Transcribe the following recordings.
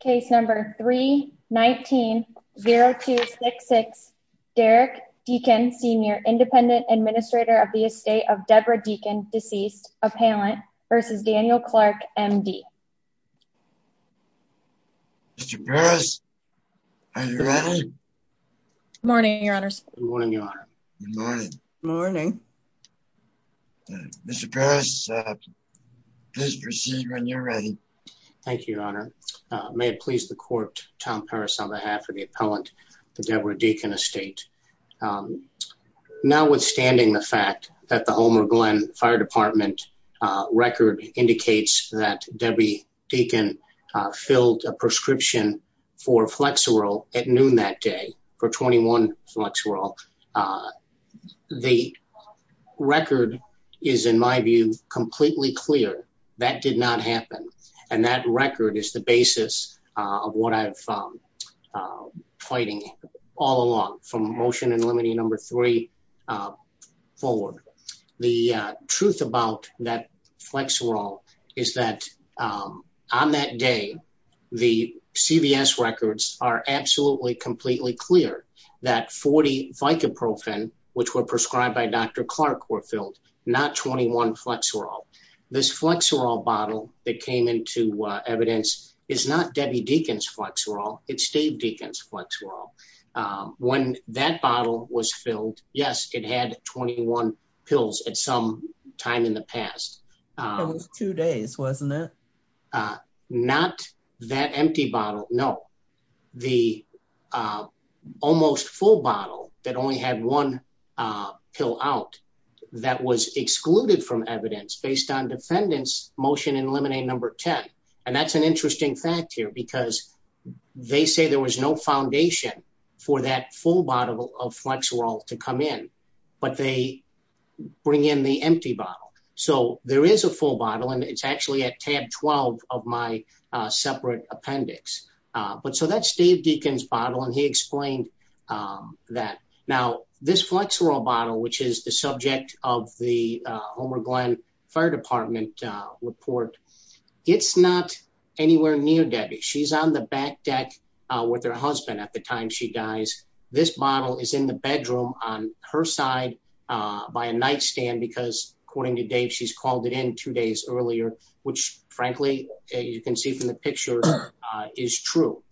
Case number 319-0266, Derek Deakin Sr., independent administrator of the estate of Deborah Deakin, deceased, appellant, versus Daniel Clark, M.D. Mr. Paris, are you ready? Good morning, your honors. Good morning, your honor. Good morning. Good morning. Mr. Paris, please proceed when you're ready. Thank you, your honor. May it please the court, Tom Paris on behalf of the appellant to Deborah Deakin Estate. Now, withstanding the fact that the Homer Glenn Fire Department record indicates that Debbie Deakin filled a prescription for Flexerol at noon that day, for 21 Flexerol, the record is, in my view, completely clear. That did not happen. And that record is the basis of what I've been fighting all along, from Motion and Limiting Number 3 to the date forward. The truth about that Flexerol is that on that day, the CVS records are absolutely completely clear that 40 Vicoprofen, which were prescribed by Dr. Clark, were filled, not 21 Flexerol. This Flexerol bottle that came into evidence is not Debbie Deakin's Flexerol. It's Dave Deakin's Flexerol. When that bottle was filled, yes, it had 21 pills at some time in the past. It was two days, wasn't it? Not that empty bottle, no. The almost full bottle that only had one pill out, that was excluded from evidence based on they say there was no foundation for that full bottle of Flexerol to come in, but they bring in the empty bottle. So there is a full bottle and it's actually at tab 12 of my separate appendix. But so that's Dave Deakin's bottle and he explained that. Now, this Flexerol bottle, which is the subject of the Homer Glenn Fire Department report, it's not anywhere near Debbie. She's on the back deck with her husband at the time she dies. This bottle is in the bedroom on her side by a nightstand because according to Dave, she's called it in two days earlier, which frankly you can see from the picture is true.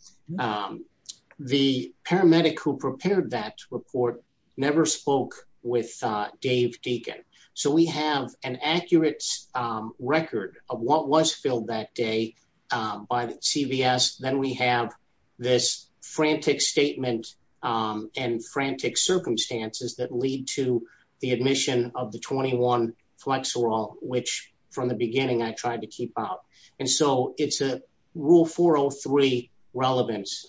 The paramedic who prepared that report never spoke with Dave Deakin. So we have an accurate record of what was filled that day by the CVS. Then we have this frantic statement and frantic circumstances that lead to the admission of the 21 Flexerol, which from the beginning I tried to keep out. And so it's a Rule 403 relevance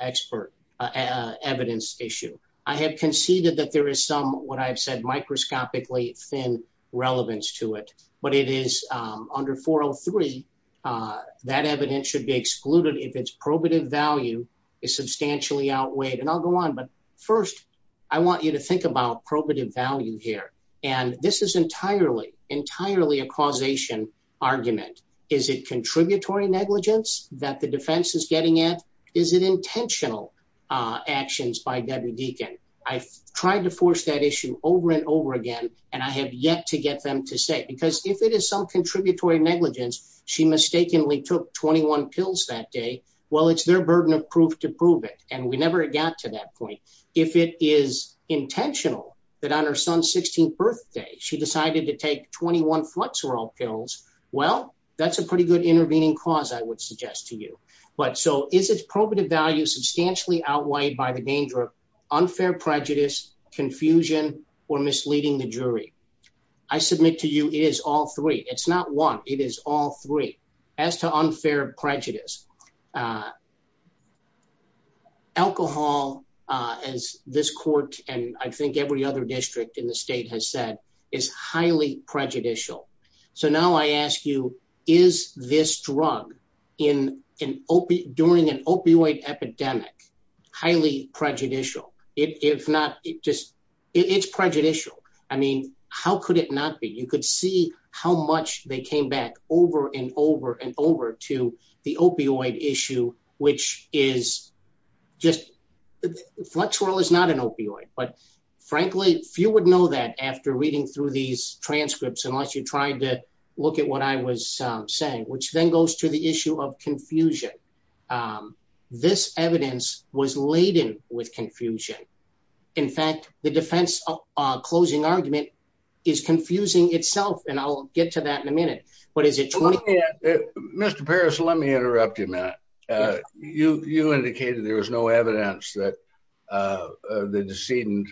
expert evidence issue. I have conceded that there is some, what I've said, microscopically thin relevance to it, but it is under 403, that evidence should be excluded if its probative value is substantially outweighed. And I'll go on, but first I want you to think about probative value here. And this is entirely, entirely a causation argument. Is it contributory negligence that the defense is getting at? Is it intentional actions by Debbie Deakin? I've tried to force that issue over and over again. And I have yet to get them to say, because if it is some contributory negligence, she mistakenly took 21 pills that day. Well, it's their burden of proof to prove it. And we never got to that point. If it is intentional that on her son's 16th pills, well, that's a pretty good intervening cause I would suggest to you. But so is its probative value substantially outweighed by the danger of unfair prejudice, confusion, or misleading the jury? I submit to you, it is all three. It's not one, it is all three. As to unfair prejudice, alcohol, as this court, and I think every other district in the state has said, is highly prejudicial. So now I ask you, is this drug during an opioid epidemic highly prejudicial? If not, it's prejudicial. I mean, how could it not be? You could see how much they came back over and over and over to the opioid issue, which is just, flexural is not an opioid. But frankly, few would know that after reading through these transcripts, unless you're trying to look at what I was saying, which then goes to the issue of confusion. This evidence was laden with confusion. In fact, the defense closing argument is confusing itself. And I'll get to that in a minute. But is it? Mr. Parrish, let me interrupt you a minute. You indicated there was no evidence that the decedent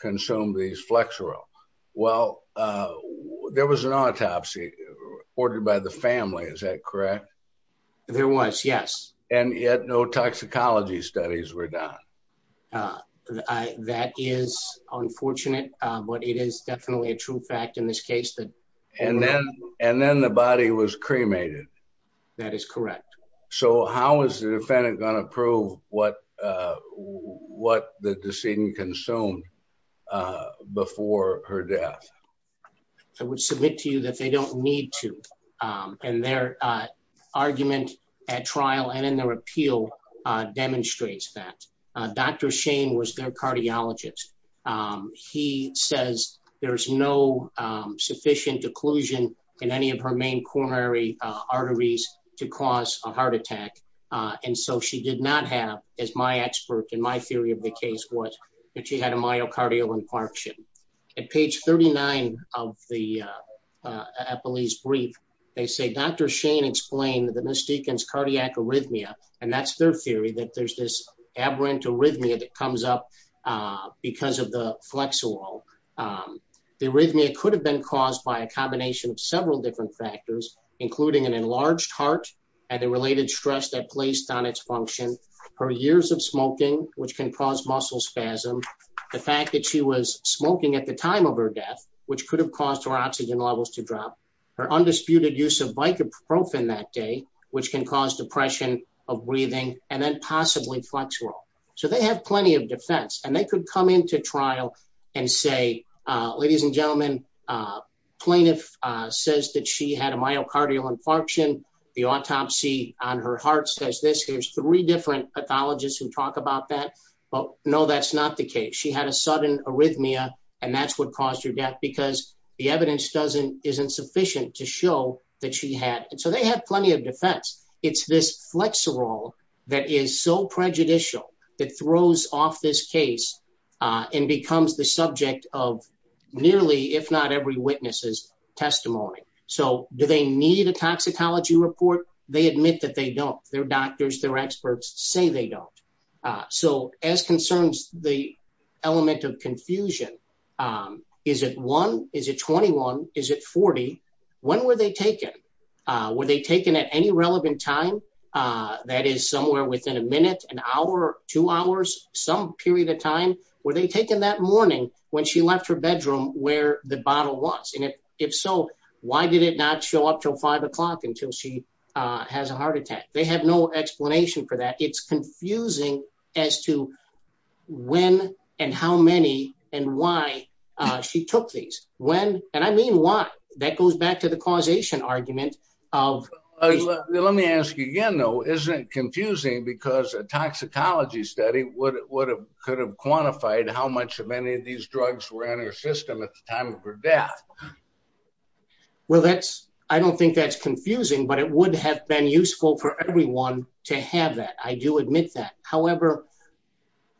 consumed these flexural. Well, there was an autopsy ordered by the family, is that correct? There was, yes. And yet no toxicology studies were done. Uh, that is unfortunate, but it is definitely a true fact in this case that- And then the body was cremated. That is correct. So how is the defendant going to prove what the decedent consumed before her death? I would submit to you that they don't need to. And their argument at trial and in their appeal demonstrates that. Dr. Shane was their cardiologist. He says there's no sufficient occlusion in any of her main coronary arteries to cause a heart attack. And so she did not have, as my expert and my theory of the case was, that she had a myocardial infarction. At page 39 of the appellee's brief, they say, Dr. Shane explained that Ms. Deacon's cardiac arrhythmia, and that's their theory, that there's this aberrant arrhythmia that comes up because of the flexural. The arrhythmia could have been caused by a combination of several different factors, including an enlarged heart and the related stress that placed on its function, her years of smoking, which can cause muscle spasm, the fact that she was smoking at the time of her death, which could have caused her oxygen levels to drop, her undisputed use of Vicaprofen that day, which can cause depression of breathing and then possibly flexural. So they have plenty of defense. And they could come into trial and say, ladies and gentlemen, plaintiff says that she had a myocardial infarction. The autopsy on her heart says this. Here's three different pathologists who talk about that. But no, that's not the case. She had a sudden arrhythmia and that's what caused her death because the evidence isn't sufficient to show that she had. And so they have plenty of defense. It's this flexural that is so prejudicial that throws off this case and becomes the subject of nearly, if not every witness's testimony. So do they need a toxicology report? They admit that they don't. Their doctors, their experts say they don't. So as concerns the element of confusion, is it one? Is it 21? Is it 40? When were they taken? Were they taken at any relevant time? That is somewhere within a minute, an hour, two hours, some period of time. Were they taken that morning when she left her bedroom where the bottle was? And if so, why did it not show up till five o'clock until she has a heart attack? They have no explanation for that. It's confusing as to when and how many and why she took these. When, and I mean why, that goes back to the causation argument. Let me ask you again though, isn't it confusing because a toxicology study could have quantified how much of any of these drugs were in her system at the time of her death? Well, that's, I don't think that's confusing, but it would have been useful for everyone to have that. I do admit that. However,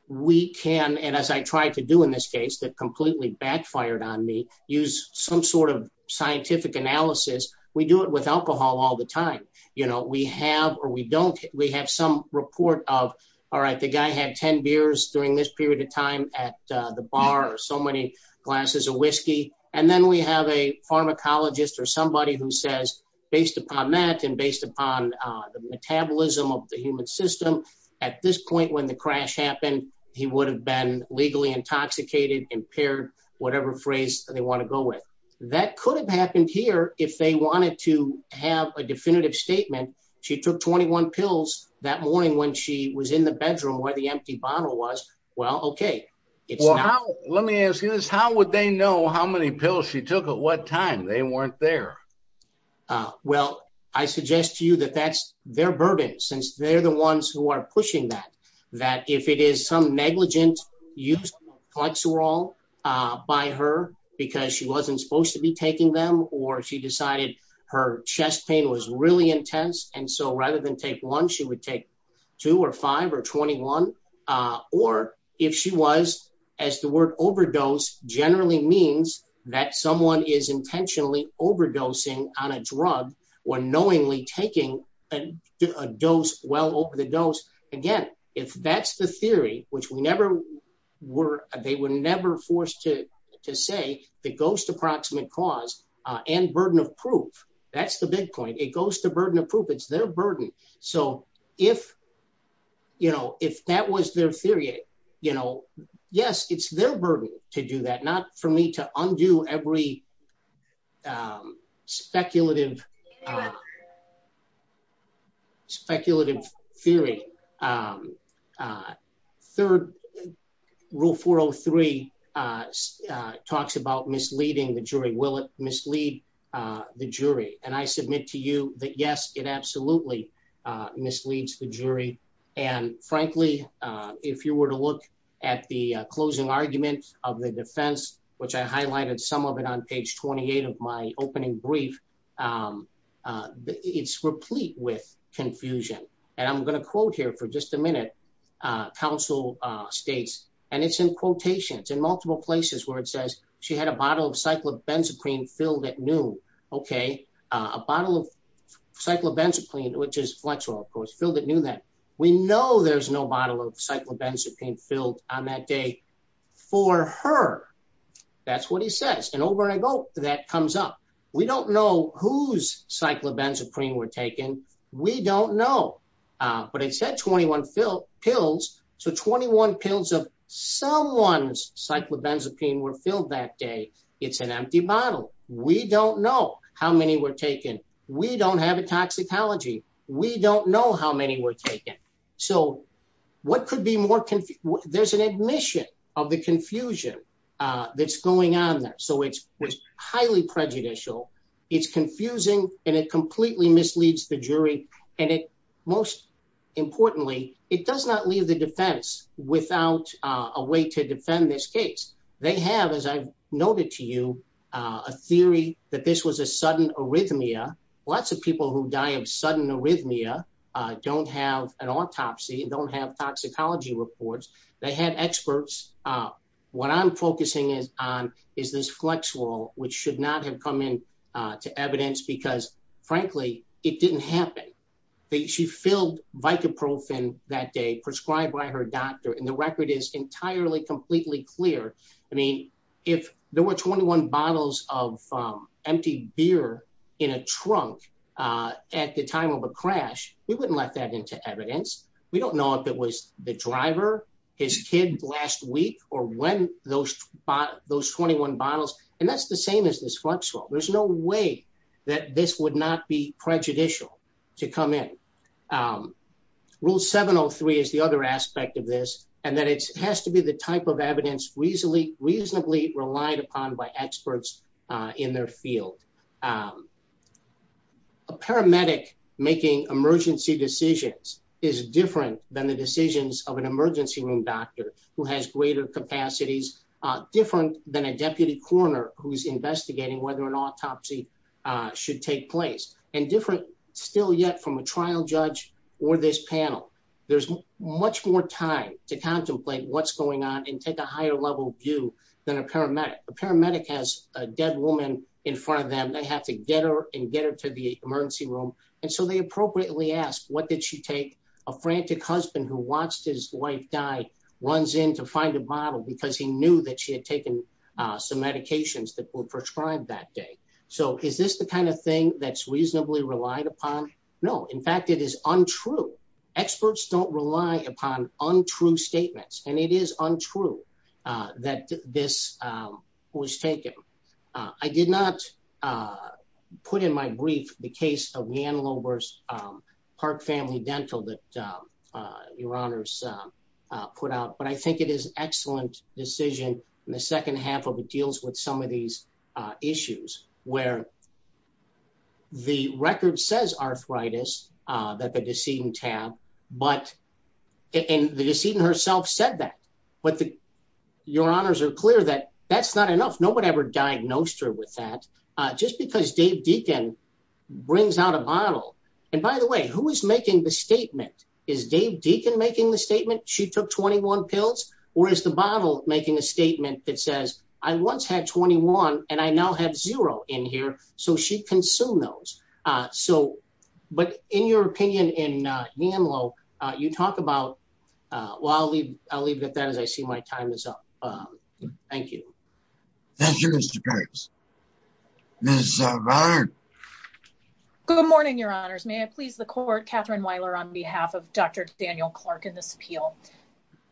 we can, and as I tried to do in this case, that completely backfired on me, use some sort of scientific analysis. We do it with alcohol all the time. We have, or we don't, we have some report of, all right, the guy had 10 beers during this period of time at the bar or so many glasses of whiskey. And then we have a pharmacologist or somebody who says, based upon that and based upon the metabolism of the human system, at this point when the crash happened, he would have been legally intoxicated, impaired, whatever phrase they want to go with. That could have happened here if they wanted to have a definitive statement. She took 21 pills that morning when she was in the bedroom where the empty bottle was. Well, okay. Well, how, let me ask you this. How would they know how many pills she took at what time they weren't there? Well, I suggest to you that that's their burden since they're the ones who are pushing that, that if it is some negligent use of Clexerol by her because she wasn't supposed to be taking them or she decided her chest pain was really intense. And so rather than take one, she would take two or five or 21. Or if she was as the word overdose generally means that someone is intentionally overdosing on a drug when knowingly taking a dose well over the dose. Again, if that's the theory, which they were never forced to say the ghost approximate cause and burden of proof, that's the big point. It goes to burden of proof. It's their burden. So if that was their theory, yes, it's their burden to do that. Not for me to undo every speculative speculative theory. Third rule 403 talks about misleading the jury. Will it mislead the jury? And I submit to you that yes, it absolutely misleads the jury. And frankly, if you were to look at the closing arguments of the defense, which I highlighted some of it on page 28 of my it's replete with confusion. And I'm going to quote here for just a minute. Council states, and it's in quotations in multiple places where it says she had a bottle of cyclobenzaprine filled at noon. Okay. A bottle of cyclobenzaprine, which is flexible, of course, filled it knew that we know there's no bottle of cyclobenzaprine filled on that day for her. That's what he says. And over and I go, that comes up. We don't know whose cyclobenzaprine were taken. We don't know. But it said 21 pills. So 21 pills of someone's cyclobenzaprine were filled that day. It's an empty bottle. We don't know how many were taken. We don't have a toxicology. We don't know how many were taken. So what could be more confusing? There's an admission of the confusion that's going on there. So it's highly prejudicial. It's confusing, and it completely misleads the jury. And it most importantly, it does not leave the defense without a way to defend this case. They have, as I've noted to you, a theory that this was a sudden arrhythmia. Lots of people who die of sudden arrhythmia don't have an autopsy don't have toxicology reports. They have experts. What I'm focusing on is this flex wall, which should not have come in to evidence because frankly, it didn't happen. She filled Vicaprofen that day prescribed by her doctor. And the record is entirely, completely clear. I mean, if there were 21 bottles of empty beer in a trunk at the time of a crash, we wouldn't let that into evidence. We don't know if it was the driver, his kid last week, or when those 21 bottles. And that's the same as this flex wall. There's no way that this would not be prejudicial to come in. Rule 703 is the other aspect of this, and that it has to be the type of evidence reasonably relied upon by different than the decisions of an emergency room doctor who has greater capacities, different than a deputy coroner who's investigating whether an autopsy should take place and different still yet from a trial judge or this panel. There's much more time to contemplate what's going on and take a higher level view than a paramedic. A paramedic has a dead woman in front of them. They have to get her and get her to the emergency room. And so they appropriately ask, what did she take? A frantic husband who watched his wife die runs in to find a bottle because he knew that she had taken some medications that were prescribed that day. So is this the kind of thing that's reasonably relied upon? No. In fact, it is untrue. Experts don't rely upon untrue statements, and it is untrue that this was taken. I did not put in my brief the case of family dental that your honors put out, but I think it is excellent decision in the second half of it deals with some of these issues where the record says arthritis that the decedent tab, and the decedent herself said that. But your honors are clear that that's not enough. Nobody ever diagnosed her with that. Just because Dave Deacon brings out a bottle, and by the way, who is making the statement? Is Dave Deacon making the statement? She took 21 pills, or is the bottle making a statement that says, I once had 21, and I now have zero in here. So she consumed those. So, but in your opinion in YAMLO, you talk about, well, I'll leave it at that as I see my time is up. Thank you. Thank you, Mr. Gibbs. Good morning, your honors. May I please Catherine Weiler on behalf of Dr. Daniel Clark in this appeal.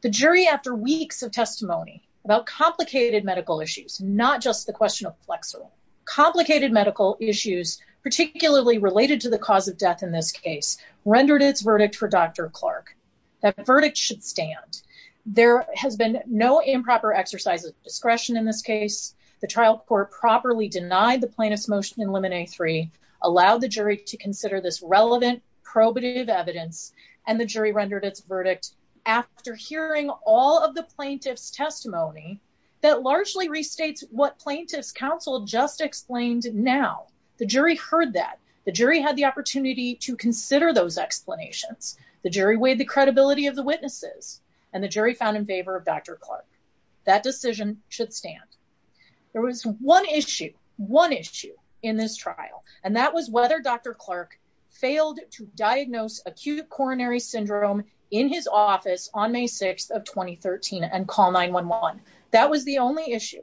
The jury after weeks of testimony about complicated medical issues, not just the question of flexor, complicated medical issues, particularly related to the cause of death in this case, rendered its verdict for Dr. Clark. That verdict should stand. There has been no improper exercise of discretion in this case. The trial court properly denied the plaintiff's motion in limit A3, allowed the jury to consider this relevant probative evidence, and the jury rendered its verdict after hearing all of the plaintiff's testimony that largely restates what plaintiff's counsel just explained now. The jury heard that. The jury had the opportunity to consider those explanations. The jury weighed the credibility of the witnesses, and the jury found in favor of Dr. Clark. That decision should failed to diagnose acute coronary syndrome in his office on May 6th of 2013 and call 911. That was the only issue.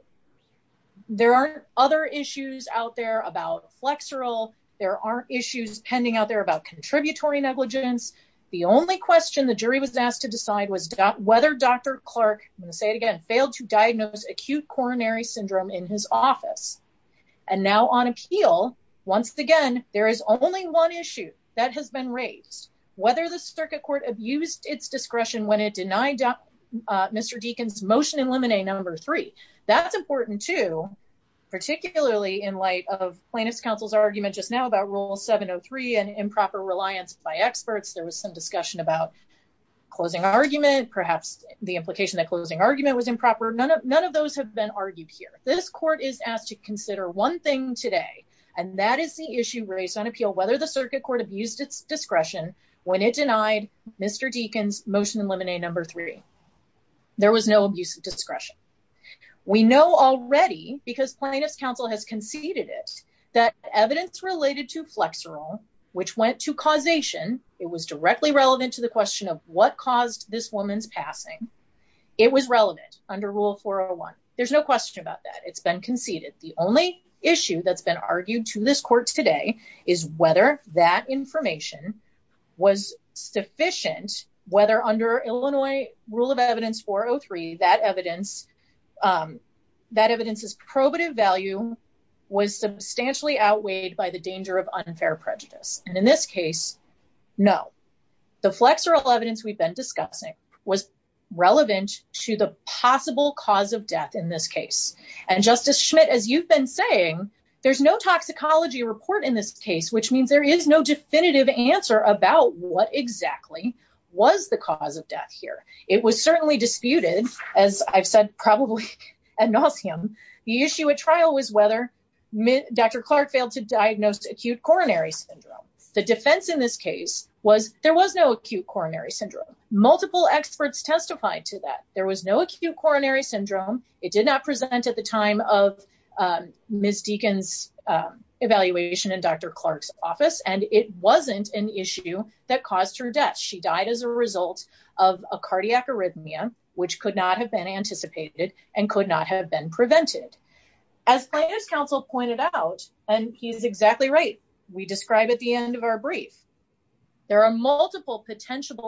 There are other issues out there about flexoral. There are issues pending out there about contributory negligence. The only question the jury was asked to decide was whether Dr. Clark, I'm going to say it again, failed to diagnose acute coronary syndrome in his office. And now on appeal, once again, there is only one issue that has been raised, whether the circuit court abused its discretion when it denied Mr. Deacon's motion in limit A3. That's important, too, particularly in light of plaintiff's counsel's argument just now about Rule 703 and improper reliance by experts. There was some discussion about closing argument, perhaps the implication that closing argument was improper. None of those have been argued here. This court is asked to consider one thing today, and that is the issue raised on appeal, whether the circuit court abused its discretion when it denied Mr. Deacon's motion in limit A3. There was no abuse of discretion. We know already, because plaintiff's counsel has conceded it, that evidence related to flexoral, which went to causation, it was directly relevant to the question of what caused this woman's passing, it was relevant under Rule 401. There's no question about that. It's been conceded. The only issue that's been argued to this court today is whether that information was sufficient, whether under Illinois Rule of Evidence 403, that evidence's probative value was substantially outweighed by the danger of unfair prejudice. And in this case, no. The flexoral evidence we've been discussing was relevant to the possible cause death in this case. And Justice Schmidt, as you've been saying, there's no toxicology report in this case, which means there is no definitive answer about what exactly was the cause of death here. It was certainly disputed, as I've said probably ad nauseum. The issue at trial was whether Dr. Clark failed to diagnose acute coronary syndrome. The defense in this case was there was acute coronary syndrome. Multiple experts testified to that. There was no acute coronary syndrome. It did not present at the time of Ms. Deacon's evaluation in Dr. Clark's office. And it wasn't an issue that caused her death. She died as a result of a cardiac arrhythmia, which could not have been anticipated and could not have been prevented. As Plaintiff's Counsel pointed out, and he's exactly right, we describe at the end of our brief, there are multiple potential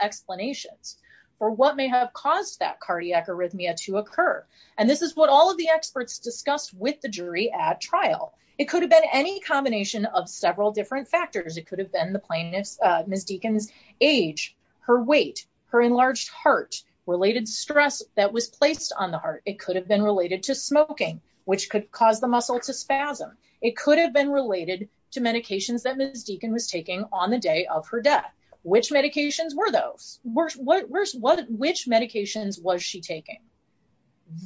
explanations for what may have caused that cardiac arrhythmia to occur. And this is what all of the experts discussed with the jury at trial. It could have been any combination of several different factors. It could have been Ms. Deacon's age, her weight, her enlarged heart, related stress that was placed on the heart. It could have been related to smoking, which could cause the muscle to spasm. It could have been related to medications that Ms. Deacon was taking on the day of her death. Which medications were those? Which medications was she taking?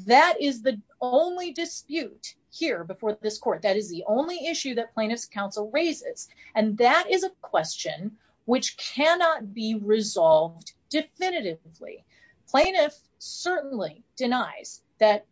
That is the only dispute here before this court. That is the only issue that Plaintiff's Counsel raises. And that is a question which cannot be resolved definitively. Plaintiff certainly denies that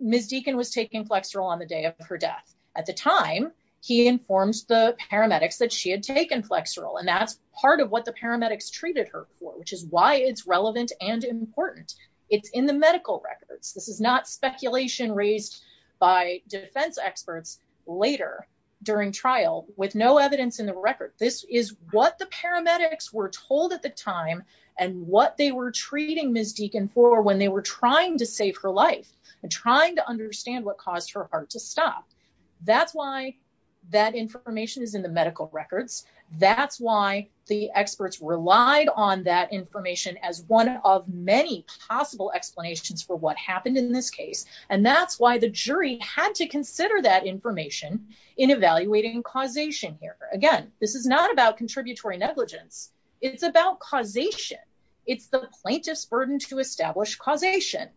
Ms. Deacon was taking Flexeril on the day of her death. At the time, he informs the paramedics that she had taken Flexeril. And that's part of what the paramedics treated her for, which is why it's relevant and important. It's in the medical records. This is not speculation raised by defense experts later during trial with no evidence in the record. This is what the paramedics were told at the time and what they were treating Ms. Deacon for when they were trying to save her life and trying to understand what caused her heart to stop. That's why that information is in the medical records. That's why the experts relied on that information as one of many possible explanations for what happened in this case. And that's why the jury had to consider that information in evaluating causation here. Again, this is not about contributory negligence. It's about causation. It's the plaintiff's burden to establish causation.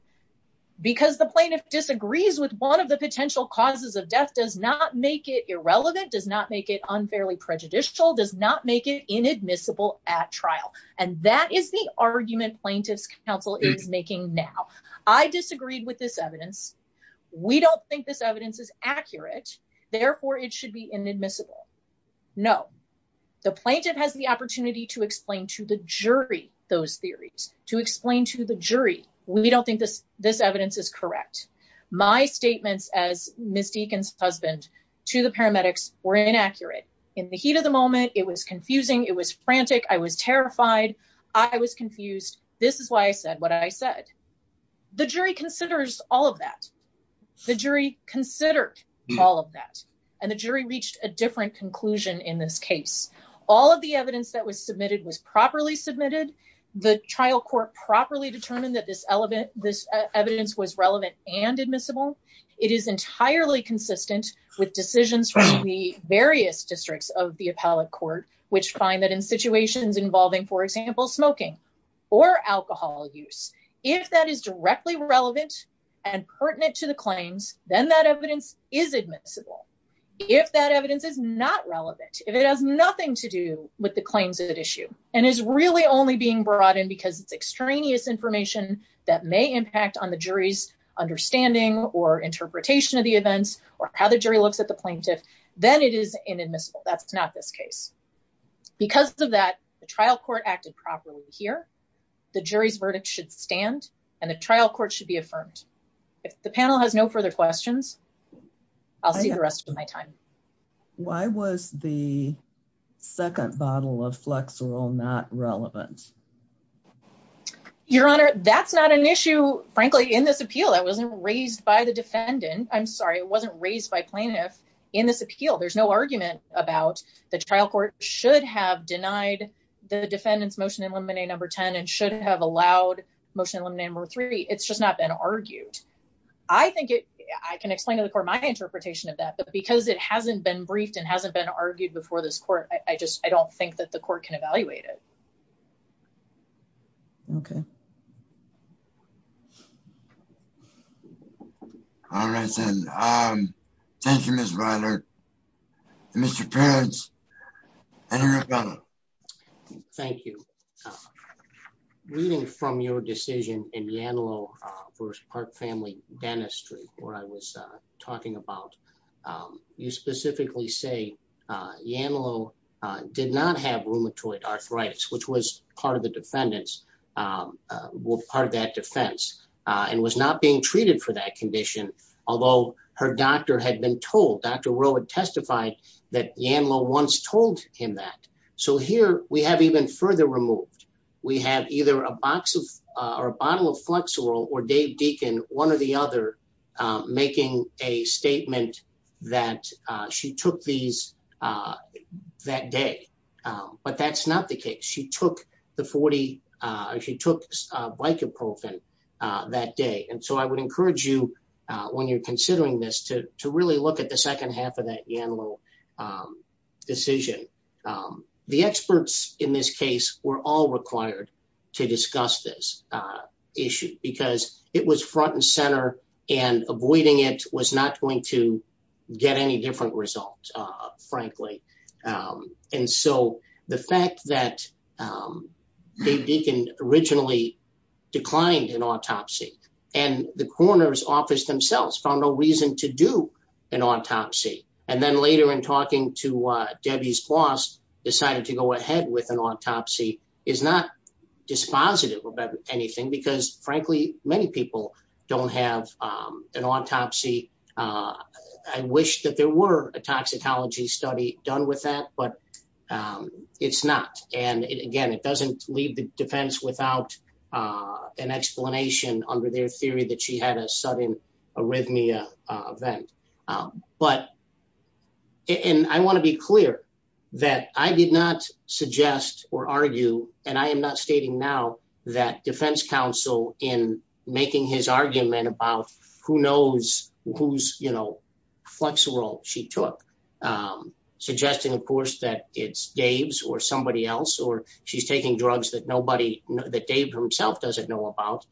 Because the plaintiff disagrees with one of the potential causes of death does not make it irrelevant, does not make it unfairly prejudicial, does not make it inadmissible at trial. And that is the argument Plaintiff's Counsel is making now. I disagreed with this evidence. We don't think this evidence is accurate. Therefore, it should be inadmissible. No. The plaintiff has the opportunity to explain to the jury those theories. To explain to the jury, we don't think this evidence is correct. My statements as Ms. Deacon's husband to the paramedics were inaccurate. In the heat of the moment, it was confusing. It was frantic. I was all of that. The jury considered all of that. And the jury reached a different conclusion in this case. All of the evidence that was submitted was properly submitted. The trial court properly determined that this evidence was relevant and admissible. It is entirely consistent with decisions from the various districts of the appellate court, which find that in situations involving, for example, smoking or alcohol use, if that is directly relevant and pertinent to the claims, then that evidence is admissible. If that evidence is not relevant, if it has nothing to do with the claims at issue and is really only being brought in because it's extraneous information that may impact on the jury's understanding or interpretation of the events or how the jury looks at the plaintiff, then it is inadmissible. That's not this case. Because of that, the trial court acted properly here. The jury's verdict should stand and the trial court should be affirmed. If the panel has no further questions, I'll see the rest of my time. Why was the second bottle of Flexerol not relevant? Your Honor, that's not an issue, frankly, in this appeal. That wasn't raised by the defendant. I'm sure the court should have denied the defendant's Motion to Eliminate No. 10 and should have allowed Motion to Eliminate No. 3. It's just not been argued. I can explain to the court my interpretation of that, but because it hasn't been briefed and hasn't been argued before this court, I don't think that the court can evaluate it. Okay. All right, then. Thank you, Ms. Reiner. Mr. Perkins. Thank you. Reading from your decision in Yanlow v. Park Family Dentistry, where I was talking about, you specifically say Yanlow did not have rheumatoid arthritis, which was part of the defense and was not being treated for that condition, although her doctor had been told, Dr. Rowe had testified that Yanlow once told him that. So here we have even further removed. We have either a bottle of Flexerol or Dave Deacon, one or the other, making a statement that she took these that day. But that's not the case. She took the 40. She took Vicoprofen that day. And so I would encourage you when you're considering this to really look at the second half of that Yanlow decision. The experts in this case were all required to discuss this issue because it was front and center and avoiding it was not going to get any different result, frankly. And so the fact that Dave Deacon originally declined an autopsy and the coroner's office themselves found no reason to do an autopsy. And then later in talking to Debbie's boss, decided to go ahead with an autopsy is not dispositive of anything because frankly, many people don't have an autopsy. I wish that there were a toxicology study done with that, but it's not. And again, it doesn't leave the defense without an explanation under their theory that she had a sudden arrhythmia event. But, and I want to be clear that I did not suggest or argue, and I am not stating now that defense counsel in making his argument about who knows whose, you know, Flexerol she took, suggesting of course, that it's Dave's or somebody else, or she's taking drugs that nobody, that Dave himself doesn't know about.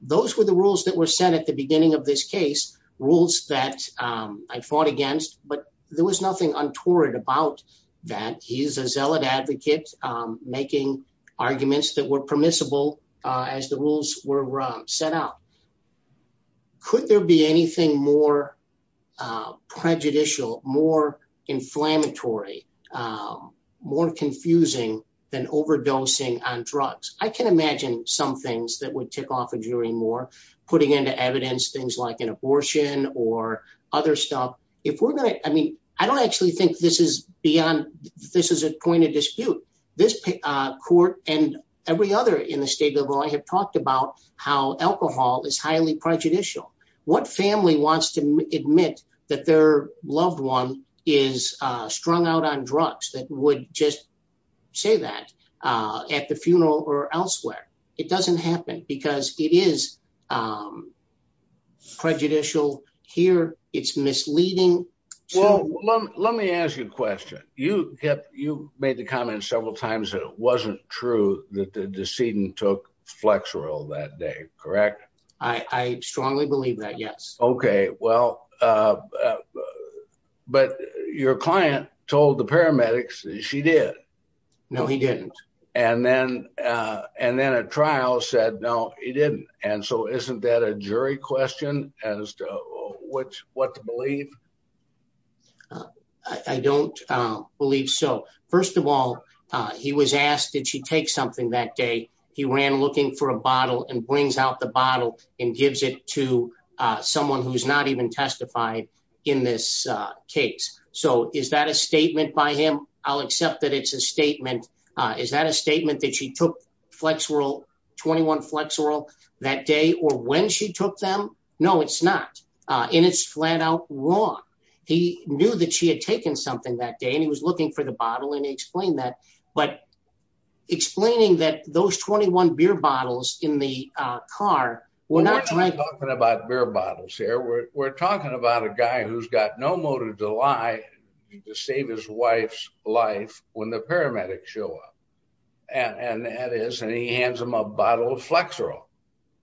Those were the rules that were set at the beginning of this case rules that I fought against, but there was nothing untoward about that. He's a zealot advocate making arguments that were permissible as the rules were set out. Could there be anything more prejudicial, more inflammatory, more confusing than overdosing on drugs? I can imagine some things that would tick off a jury more putting into evidence, things like an abortion or other stuff. If we're going to, I mean, I don't actually think this is beyond, this is a point of dispute. This court and every other in the state of Illinois have talked about how alcohol is highly prejudicial. What family wants to admit that their loved one is strung out on drugs that would just say that at the funeral or elsewhere? It doesn't happen because it is prejudicial here. It's misleading. Well, let me ask you a question. You made the comment several times that it wasn't true that the decedent took Flexerol that day, correct? I strongly believe that, yes. Well, but your client told the paramedics she did. No, he didn't. And then at trial said, no, he didn't. And so isn't that a jury question as to what to believe? I don't believe so. First of all, he was asked, did she take something that day? He ran looking for a bottle and brings out the bottle and gives it to someone who's not even testified in this case. So is that a statement by him? I'll accept that it's a statement. Is that a statement that she took Flexerol, 21 Flexerol that day or when she took them? No, it's not. And it's flat out wrong. He knew that she had taken something that day and he was looking for the bottle. And he explained that. But explaining that those 21 beer bottles in the car were not drinking. We're not talking about beer bottles here. We're talking about a guy who's got no motive to lie to save his wife's life when the paramedics show up. And that is, and he hands him a bottle of Flexerol.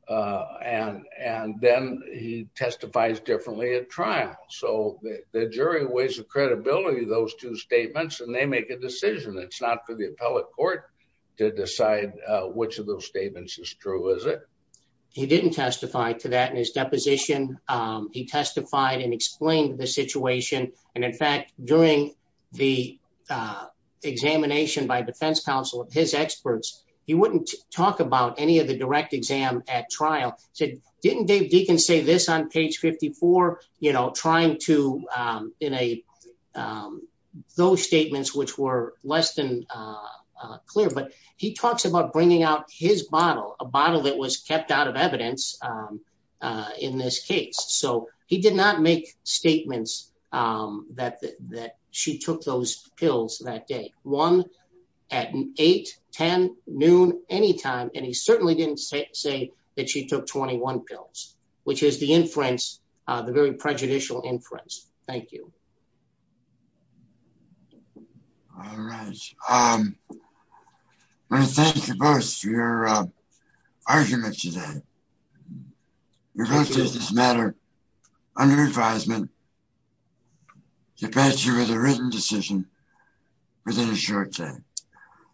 And then he testifies differently at trial. So the jury weighs the credibility of those two statements and they make a decision. It's not for the appellate court to decide which of those statements is true, is it? He didn't testify to that in his deposition. He testified and explained the situation. And in fact, during the examination by defense counsel, his experts, he wouldn't talk about any of the at trial. He said, didn't Dave Deacon say this on page 54, you know, trying to, in a, those statements, which were less than clear, but he talks about bringing out his bottle, a bottle that was kept out of evidence in this case. So he did not make statements that she took those pills that day, one at eight, 10 noon, anytime. And he certainly didn't say that she took 21 pills, which is the inference, the very prejudicial inference. Thank you. All right. I want to thank you both for your argument today. You're going to take this matter under advisement to pass you with a written decision within a short time.